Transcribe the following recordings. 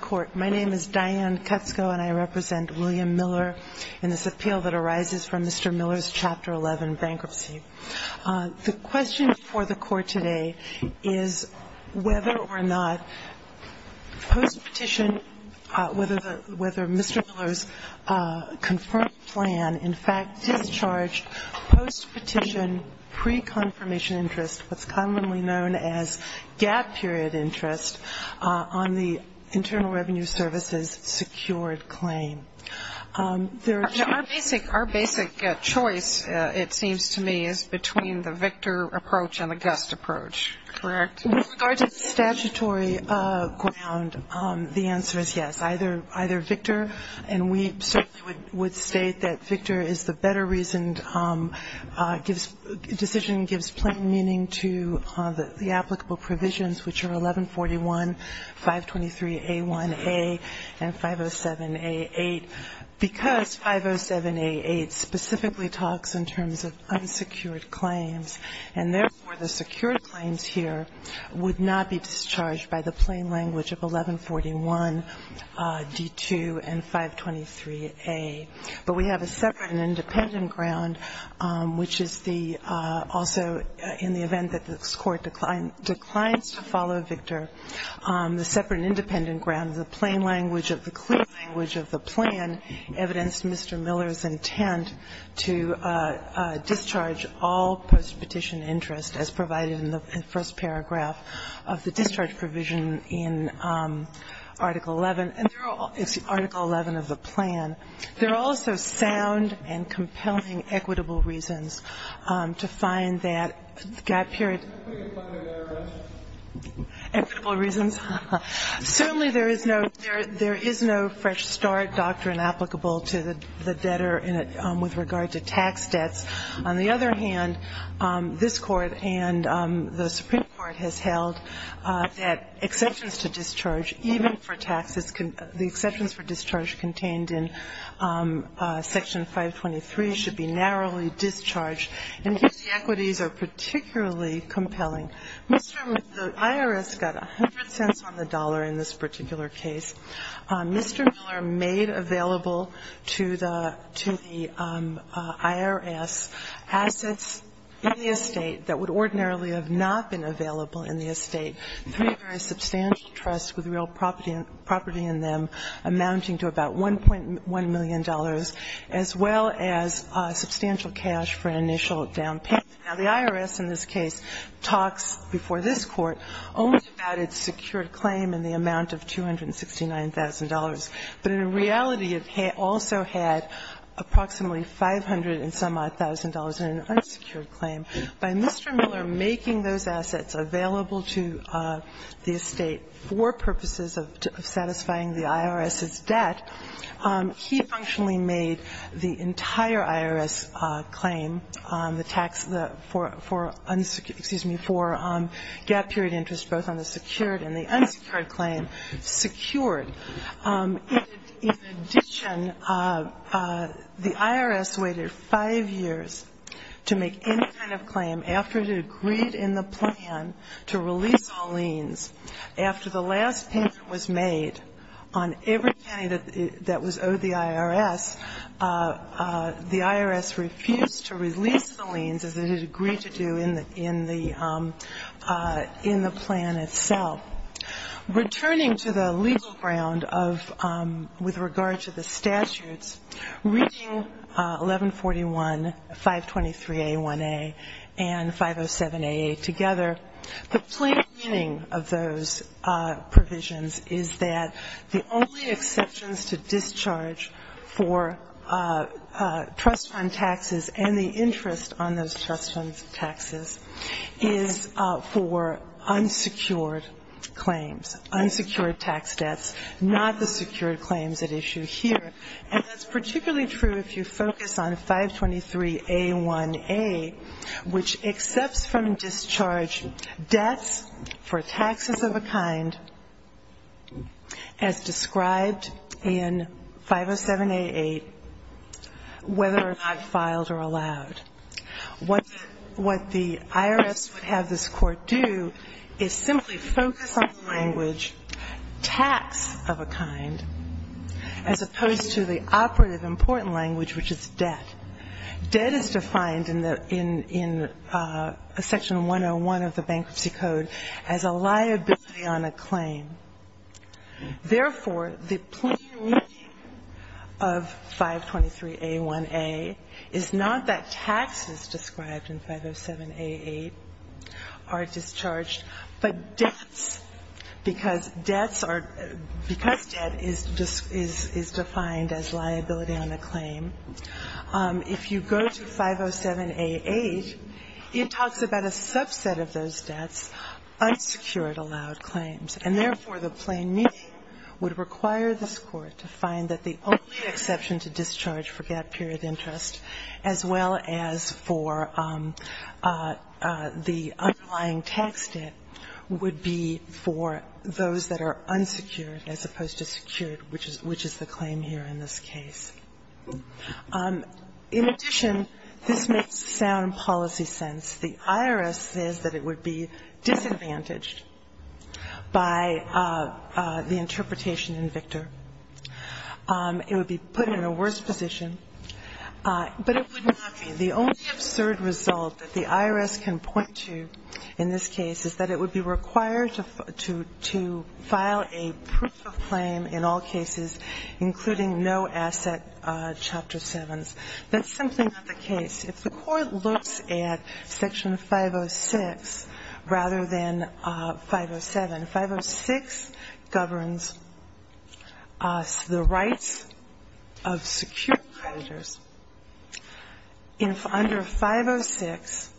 Court. My name is Diane Kutsko and I represent William Miller in this appeal that arises from Mr. Miller's Chapter 11 bankruptcy. The question for the Court today is whether or not post-petition, whether Mr. Miller's confirmed plan in fact discharged post-petition pre-confirmation interest, what's commonly known as gap-period interest on the Internal Revenue Service's secured claim. Our basic choice, it seems to me, is between the Victor approach and the Gust approach, correct? With regard to statutory ground, the answer is yes, either Victor, and we certainly would state that Victor is the better-reasoned decision, gives plain meaning to the applicable provisions which are 1141, 523A1A, and 507A8, because 507A8 specifically talks in terms of unsecured claims, and therefore, the secured claims here would not be discharged by the plain language of 1141D2 and 523A. But we have a separate and independent ground, which is the also in the event that this Court declines to follow Victor, the separate and independent ground, the plain language of the clear language of the plan evidenced Mr. Miller's intent to discharge all post-petition interest as provided in the first paragraph of the discharge provision in Article 11. It's Article 11 of the plan. There are also sound and compelling equitable reasons to find that, period, equitable reasons. Certainly there is no fresh start doctrine applicable to the debtor with regard to tax debts. On the other hand, this Court and the Supreme Court has held that exceptions to discharge even for taxes, the exceptions for discharge contained in Section 523 should be narrowly discharged. And here the equities are particularly compelling. Mr. Miller, the IRS got 100 cents on the dollar in this particular case. Mr. Miller made available to the IRS assets in the estate that would ordinarily have not been available in the estate, three very substantial trusts with real property in them amounting to about $1.1 million, as well as substantial cash for an initial down payment. Now, the IRS in this case talks before this Court only about its secured claim in the amount of $269,000, but in reality it also had approximately $500,000 and some odd secured claim. By Mr. Miller making those assets available to the estate for purposes of satisfying the IRS's debt, he functionally made the entire IRS claim, the tax for unsecured ‑‑ excuse me, for gap period interest both on the secured and the unsecured claim secured. In addition, the IRS waited five years to make any kind of claim after it agreed in the plan to release all liens. After the last payment was made on every penny that was owed the IRS, the IRS refused to release the liens as it had agreed to do in the plan itself. Returning to the legal ground of ‑‑ with regard to the statutes, reading 1141, 523A1A and 507AA together, the plain meaning of those provisions is that the only exceptions to unsecured tax debts, not the secured claims at issue here. And that's particularly true if you focus on 523A1A, which accepts from discharge debts for taxes of a kind as described in 507AA, whether or not filed or allowed. What the IRS would have this court do is simply focus on the language, tax of a kind, as opposed to the operative important language, which is debt. Debt is defined in section 101 of the Bankruptcy Code as a liability on a claim. Therefore, the plain meaning of 523A1A is not that taxes described in 507AA are discharged, but debts, because debts are ‑‑ because debt is defined as liability on a claim. If you go to 507AA, it talks about a subset of those debts, unsecured allowed claims. And therefore, the plain meaning would require this court to find that the only exception to discharge for gap period interest, as well as for the underlying tax debt, would be for those that are unsecured as opposed to secured, which is the claim here in this case. In addition, this makes sound policy sense. The IRS says that it would be disadvantaged by the interpretation in Victor. It would be put in a worse position, but it would not be. The only absurd result that the IRS can point to in this case is that it would be required to file a proof of claim in all cases, including no asset Chapter 7s. That's simply not the case. If the court looks at Section 506 rather than 507, 506 governs the rights of secured creditors. Under 506,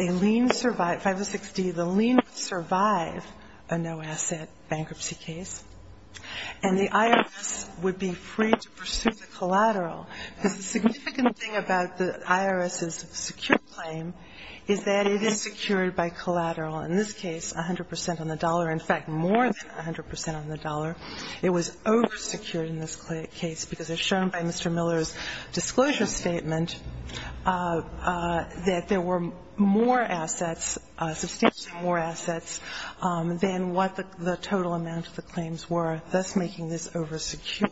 a lien ‑‑ 506D, the lien would survive a no asset bankruptcy case, and the IRS would be free to pursue the collateral. Because the significant thing about the IRS's secured claim is that it is secured by collateral. In this case, 100 percent on the dollar. In fact, more than 100 percent on the dollar. It was oversecured in this case because, as shown by Mr. Miller's disclosure statement, that there were more assets, substantially more assets, than what the total amount of the claims were, thus making this oversecured.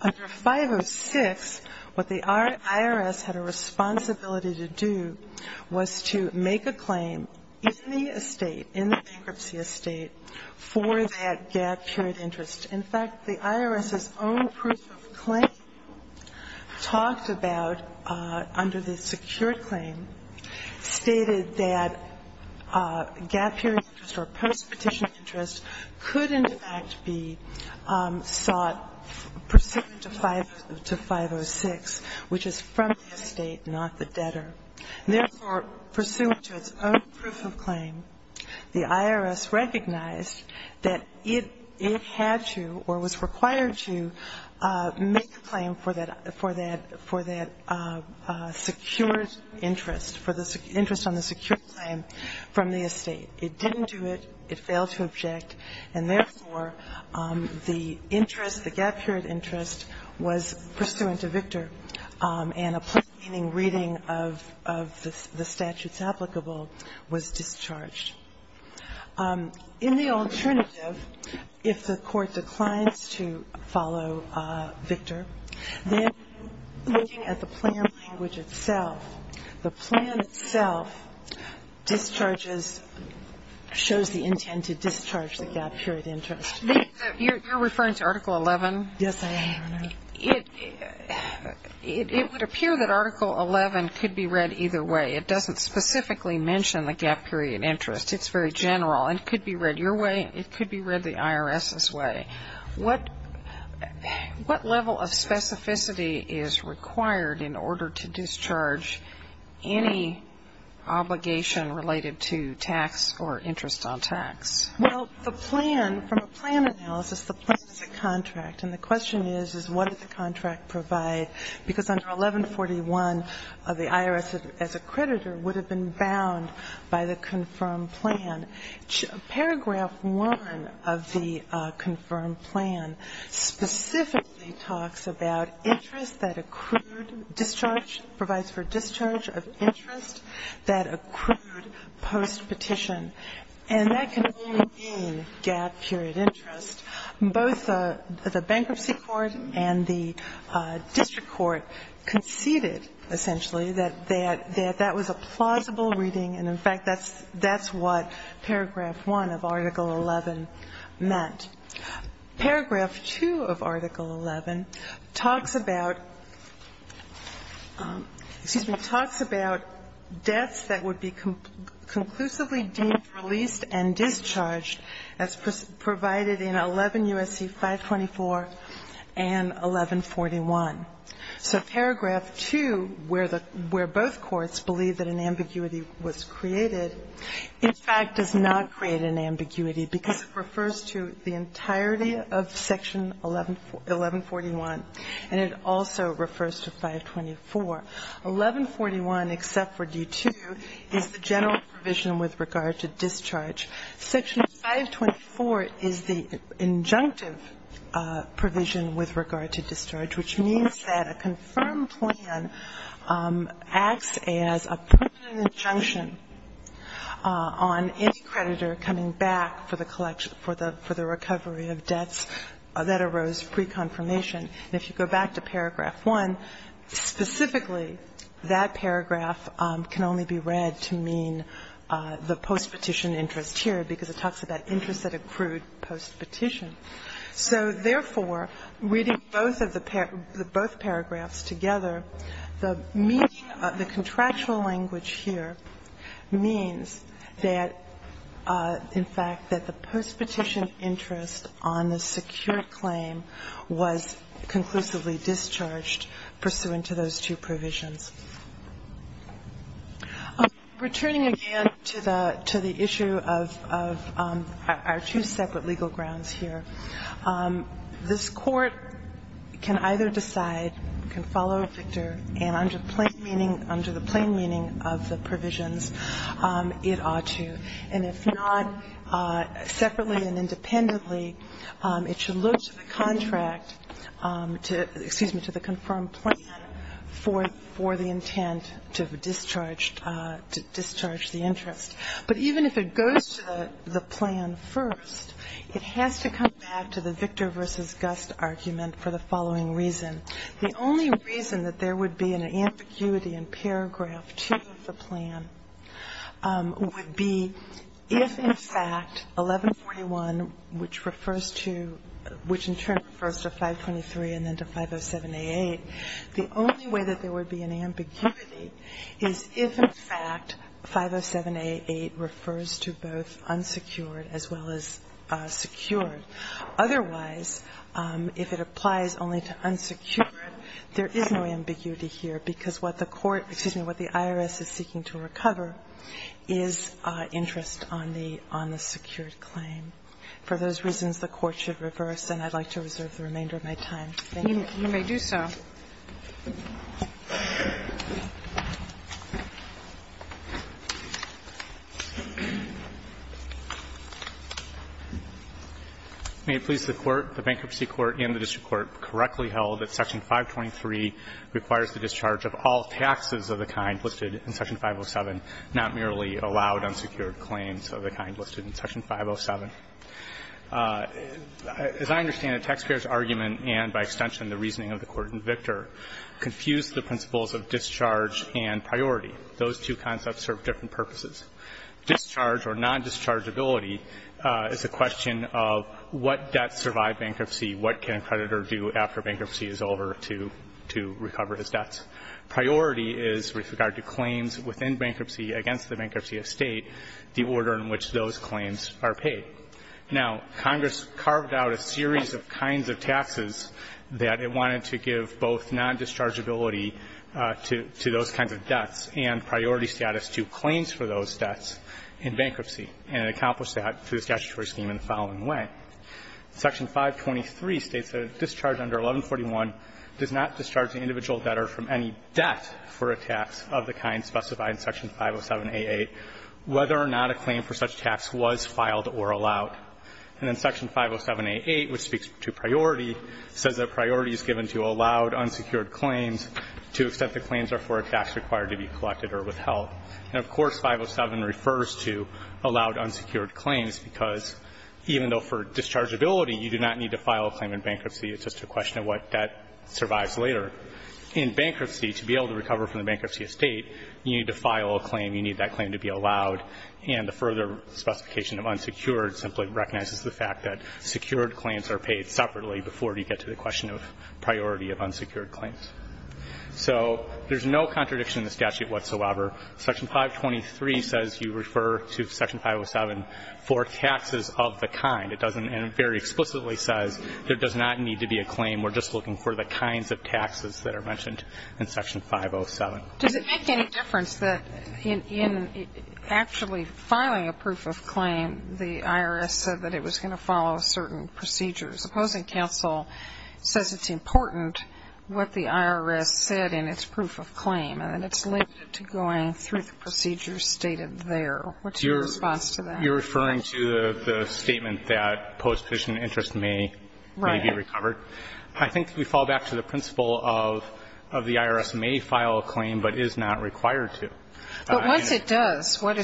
Under 506, what the IRS had a responsibility to do was to make a claim in the estate, in the bankruptcy estate, for that gap period interest. In fact, the IRS's own proof of claim talked about, under the secured claim, stated that gap period interest or postpetition interest could, in fact, be sought pursuant to 506, which is from the estate, not the debtor. Therefore, pursuant to its own proof of claim, the IRS recognized that it had to or was required to make a claim for that ‑‑ for that secured interest, for the interest on the secured claim from the estate. It didn't do it. It failed to object. And therefore, the interest, the gap period interest, was pursuant to Victor, and a plain-meaning reading of the statutes applicable was discharged. In the alternative, if the Court declines to follow Victor, then looking at the plan language itself, the plan itself discharges ‑‑ shows the intent to discharge the gap period interest. You're referring to Article 11? Yes, I am, Your Honor. It would appear that Article 11 could be read either way. It doesn't specifically mention the gap period interest. It's very general. It could be read your way. What level of specificity is required in order to discharge any obligation related to tax or interest on tax? Well, the plan, from a plan analysis, the plan is a contract. And the question is, is what did the contract provide? Because under 1141, the IRS, as a creditor, would have been bound by the confirmed plan. Paragraph 1 of the confirmed plan specifically talks about interest that accrued discharge, provides for discharge of interest that accrued post-petition. And that can only mean gap period interest. Both the bankruptcy court and the district court conceded, essentially, that that was a plausible reading, and, in fact, that's what Paragraph 1 of Article 11 meant. Paragraph 2 of Article 11 talks about deaths that would be conclusively deemed released and discharged as provided in 11 U.S.C. 524 and 1141. So Paragraph 2, where both courts believe that an ambiguity was created, in fact, does not create an ambiguity because it refers to the entirety of Section 1141, and it also refers to 524. 1141, except for D2, is the general provision with regard to discharge. Section 524 is the injunctive provision with regard to discharge, which means that a confirmed plan acts as a permanent injunction on any creditor coming back for the collection, for the recovery of debts that arose pre-confirmation. And if you go back to Paragraph 1, specifically, that paragraph can only be read to mean the post-petition interest here, because it talks about interest that accrued post-petition. So, therefore, reading both paragraphs together, the meaning of the contractual language here means that, in fact, that the post-petition interest on the secured claim was conclusively discharged pursuant to those two provisions. Returning again to the issue of our two separate legal grounds here, I think that this Court can either decide, can follow, Victor, and under plain meaning, under the plain meaning of the provisions, it ought to. And if not separately and independently, it should look to the contract to the confirmed plan for the intent to discharge the interest. But even if it goes to the plan first, it has to come back to the Victor v. Gust argument for the following reason. The only reason that there would be an ambiguity in Paragraph 2 of the plan would be if, in fact, 1141, which refers to, which in turn refers to 523 and then to 507-A8, the only way that there would be an ambiguity is if, in fact, 507-A8 had been discharged. be if, in fact, 507-A8 refers to both unsecured as well as secured. Otherwise, if it applies only to unsecured, there is no ambiguity here, because what the court, excuse me, what the IRS is seeking to recover is interest on the secured claim. For those reasons, the court should reverse, and I'd like to reserve the remainder of my time. Thank you. Sotomayor, you may do so. May it please the Court, the Bankruptcy Court and the district court, correctly held that Section 523 requires the discharge of all taxes of the kind listed in Section 507, not merely allowed unsecured claims of the kind listed in Section 507? As I understand it, taxpayers' argument and, by extension, the reasoning of the Court in Victor confused the principles of discharge and priority. Those two concepts serve different purposes. Discharge or non-dischargeability is a question of what debts survive bankruptcy, what can a creditor do after bankruptcy is over to recover his debts? Priority is with regard to claims within bankruptcy against the bankruptcy estate, the order in which those claims are paid. Now, Congress carved out a series of kinds of taxes that it wanted to give both non-dischargeability to those kinds of debts and priority status to claims for those debts in bankruptcy, and it accomplished that through the statutory scheme in the following way. Section 523 states that a discharge under 1141 does not discharge an individual debtor from any debt for a tax of the kind specified in Section 507a8, whether or not a claim for such tax was filed or allowed. And then Section 507a8, which speaks to priority, says that priority is given to allowed unsecured claims to the extent the claims are for a tax required to be collected or withheld. And, of course, 507 refers to allowed unsecured claims, because even though for dischargeability you do not need to file a claim in bankruptcy, it's just a question of what debt survives later. In bankruptcy, to be able to recover from the bankruptcy estate, you need to file a claim, you need that claim to be allowed, and the further specification of unsecured simply recognizes the fact that secured claims are paid separately before you get to the question of priority of unsecured claims. So there's no contradiction in the statute whatsoever. Section 523 says you refer to Section 507 for taxes of the kind. And it very explicitly says there does not need to be a claim. We're just looking for the kinds of taxes that are mentioned in Section 507. Does it make any difference that in actually filing a proof of claim, the IRS said that it was going to follow certain procedures? Opposing counsel says it's important what the IRS said in its proof of claim, and it's limited to going through the procedures stated there. What's your response to that? You're referring to the statement that post-sufficient interest may be recovered? Right. I think we fall back to the principle of the IRS may file a claim but is not required to. But once it does, what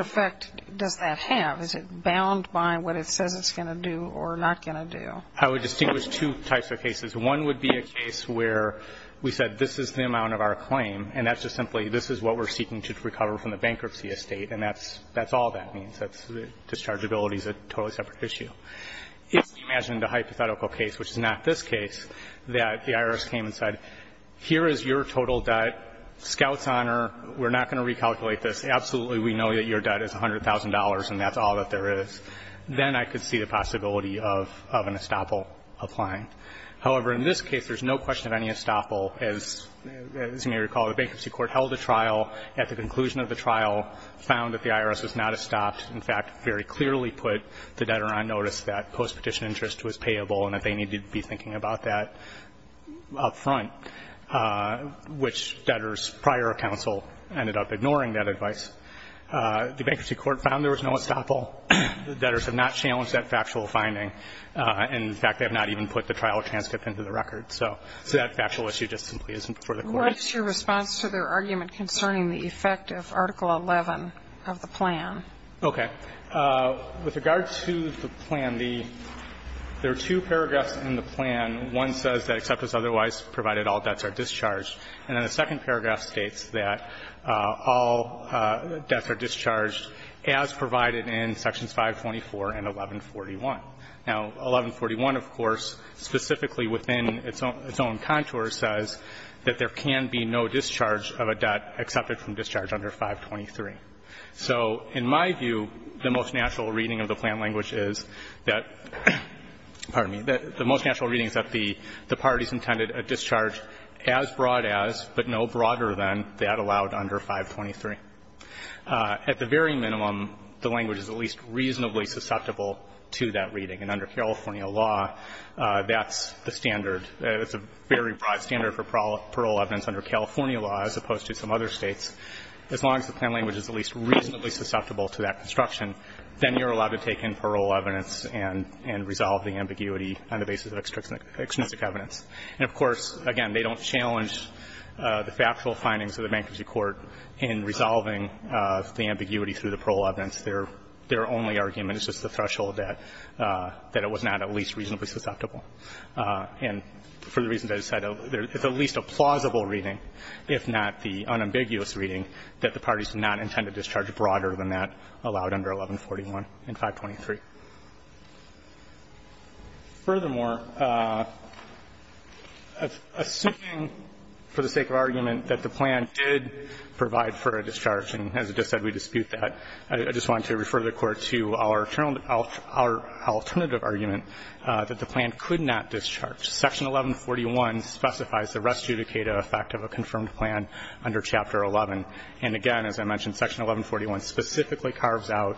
effect does that have? Is it bound by what it says it's going to do or not going to do? I would distinguish two types of cases. One would be a case where we said this is the amount of our claim, and that's just simply this is what we're seeking to recover from the bankruptcy estate, and that's all that means. Dischargeability is a totally separate issue. If we imagined a hypothetical case, which is not this case, that the IRS came and said, here is your total debt. Scouts honor. We're not going to recalculate this. Absolutely, we know that your debt is $100,000, and that's all that there is. Then I could see the possibility of an estoppel applying. However, in this case, there's no question of any estoppel. As you may recall, the bankruptcy court held a trial. At the conclusion of the trial, found that the IRS was not estopped. In fact, very clearly put the debtor on notice that postpetition interest was payable and that they needed to be thinking about that up front, which debtors prior to counsel ended up ignoring that advice. The bankruptcy court found there was no estoppel. The debtors have not challenged that factual finding. In fact, they have not even put the trial transcript into the record. So that factual issue just simply isn't before the court. What is your response to their argument concerning the effect of Article 11 of the plan? Okay. With regard to the plan, there are two paragraphs in the plan. One says that except as otherwise provided, all debts are discharged. And then the second paragraph states that all debts are discharged as provided in Sections 524 and 1141. Now, 1141, of course, specifically within its own contour says that there can be no discharge of a debt excepted from discharge under 523. So in my view, the most natural reading of the plan language is that the parties intended a discharge as broad as, but no broader than, that allowed under 523. At the very minimum, the language is at least reasonably susceptible to that reading. And under California law, that's the standard. It's a very broad standard for parole evidence under California law as opposed to some other States. As long as the plan language is at least reasonably susceptible to that construction, then you're allowed to take in parole evidence and resolve the ambiguity on the basis of extrinsic evidence. And, of course, again, they don't challenge the factual findings of the bankruptcy court in resolving the ambiguity through the parole evidence. Their only argument is just the threshold that it was not at least reasonably susceptible. And for the reasons I just said, it's at least a plausible reading, if not the unambiguous reading, that the parties did not intend a discharge broader than that allowed under 1141 and 523. Furthermore, assuming, for the sake of argument, that the plan did, in effect, provide for a discharge, and as I just said, we dispute that, I just wanted to refer the Court to our alternative argument that the plan could not discharge. Section 1141 specifies the res judicata effect of a confirmed plan under Chapter 11. And, again, as I mentioned, Section 1141 specifically carves out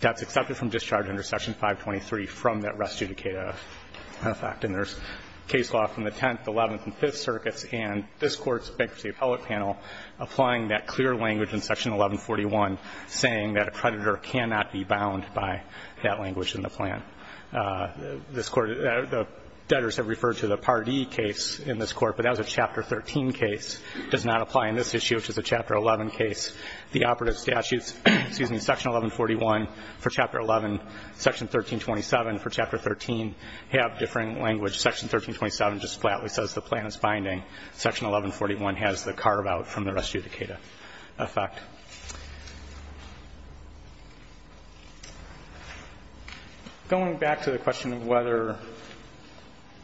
that's accepted from discharge under Section 523 from that res judicata effect. And there's case law from the Tenth, Eleventh, and Fifth Circuits, and this Court's not applying that clear language in Section 1141 saying that a creditor cannot be bound by that language in the plan. This Court the debtors have referred to the Part E case in this Court, but that was a Chapter 13 case. It does not apply in this issue, which is a Chapter 11 case. The operative statutes, excuse me, Section 1141 for Chapter 11, Section 1327 for Chapter 13 have different language. Section 1327 just flatly says the plan is binding. Section 1141 has the carve out from the res judicata effect. Going back to the question of whether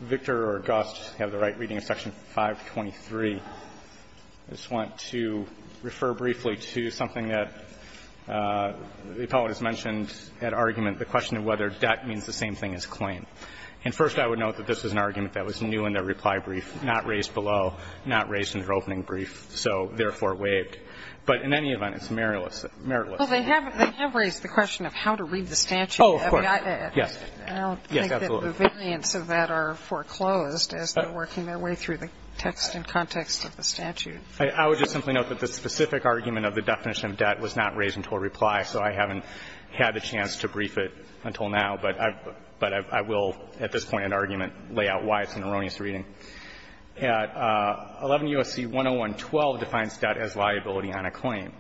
Victor or Gust have the right reading of Section 523, I just want to refer briefly to something that the poet has mentioned at argument, the question of whether debt means the same thing as claim. And first I would note that this is an argument that was new in their reply brief, not raised below, not raised in their opening brief, so therefore waived. But in any event, it's meritless. Sotomayor Well, they have raised the question of how to read the statute. I mean, I don't think that the variance of that are foreclosed as they're working their way through the text and context of the statute. I would just simply note that the specific argument of the definition of debt was not raised until reply, so I haven't had a chance to brief it until now. But I will at this point in argument lay out why it's an erroneous reading. 11 U.S.C. 10112 defines debt as liability on a claim.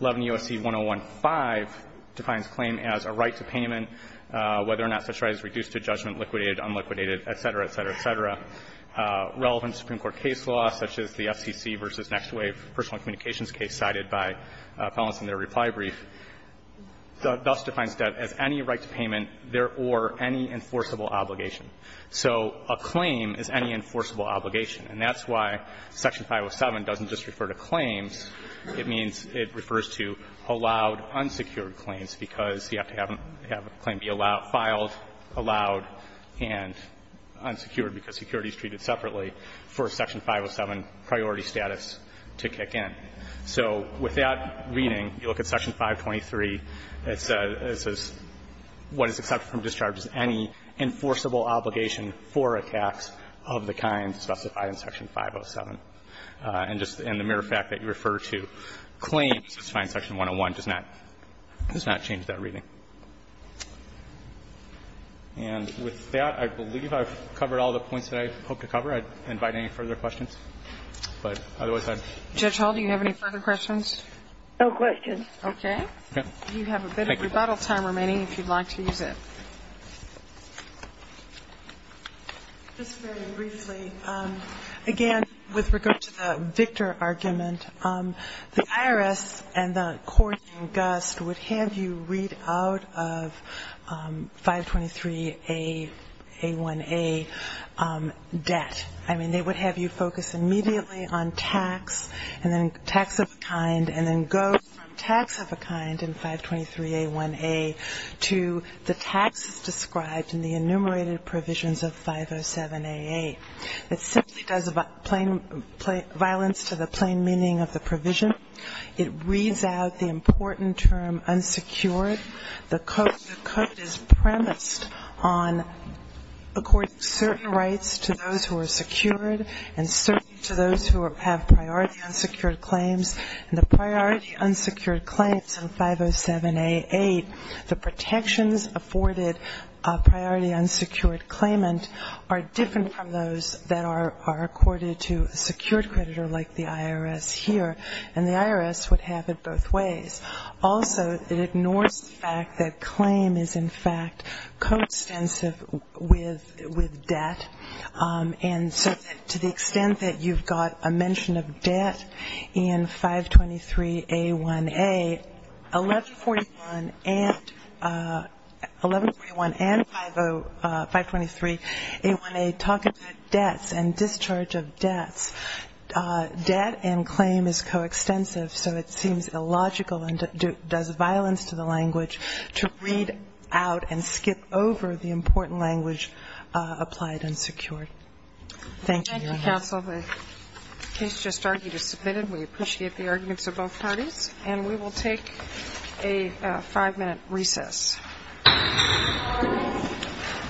11 U.S.C. 10115 defines claim as a right to payment, whether or not such right is reduced to judgment, liquidated, unliquidated, et cetera, et cetera, et cetera. Relevant Supreme Court case law, such as the FCC v. Next Wave personal communications case cited by felons in their reply brief, thus defines debt as any right to payment and, therefore, any enforceable obligation. So a claim is any enforceable obligation. And that's why Section 507 doesn't just refer to claims. It means it refers to allowed, unsecured claims, because you have to have a claim be allowed, filed, allowed, and unsecured because security is treated separately for Section 507 priority status to kick in. So with that reading, you look at Section 523. It says what is accepted from discharge is any enforceable obligation for a tax of the kind specified in Section 507. And just in the mere fact that you refer to claims, it's fine. Section 101 does not change that reading. And with that, I believe I've covered all the points that I hope to cover. I'd invite any further questions. Judge Hall, do you have any further questions? No questions. Okay. You have a bit of rebuttal time remaining if you'd like to use it. Just very briefly, again, with regard to the Victor argument, the IRS and the court in Gust would have you read out of 523A1A debt. I mean, they would have you focus immediately on tax and then tax of a kind and then go from tax of a kind in 523A1A to the taxes described in the enumerated provisions of 507A8. It simply does violence to the plain meaning of the provision. It reads out the important term unsecured. The code is premised on according certain rights to those who are secured and certain to those who have priority unsecured claims. And the priority unsecured claims in 507A8, the protections afforded priority unsecured claimant are different from those that are accorded to a secured creditor like the IRS here. And the IRS would have it both ways. Also, it ignores the fact that claim is, in fact, coextensive with debt. And so to the extent that you've got a mention of debt in 523A1A, 1141 and 523A1A talk about debts and discharge of debts. Debt and claim is coextensive, so it seems illogical and does violence to the language to read out and skip over the important language applied unsecured. Thank you, Your Honor. Thank you, counsel. The case just argued is submitted. We appreciate the arguments of both parties. And we will take a five-minute recess. Court is adjourned.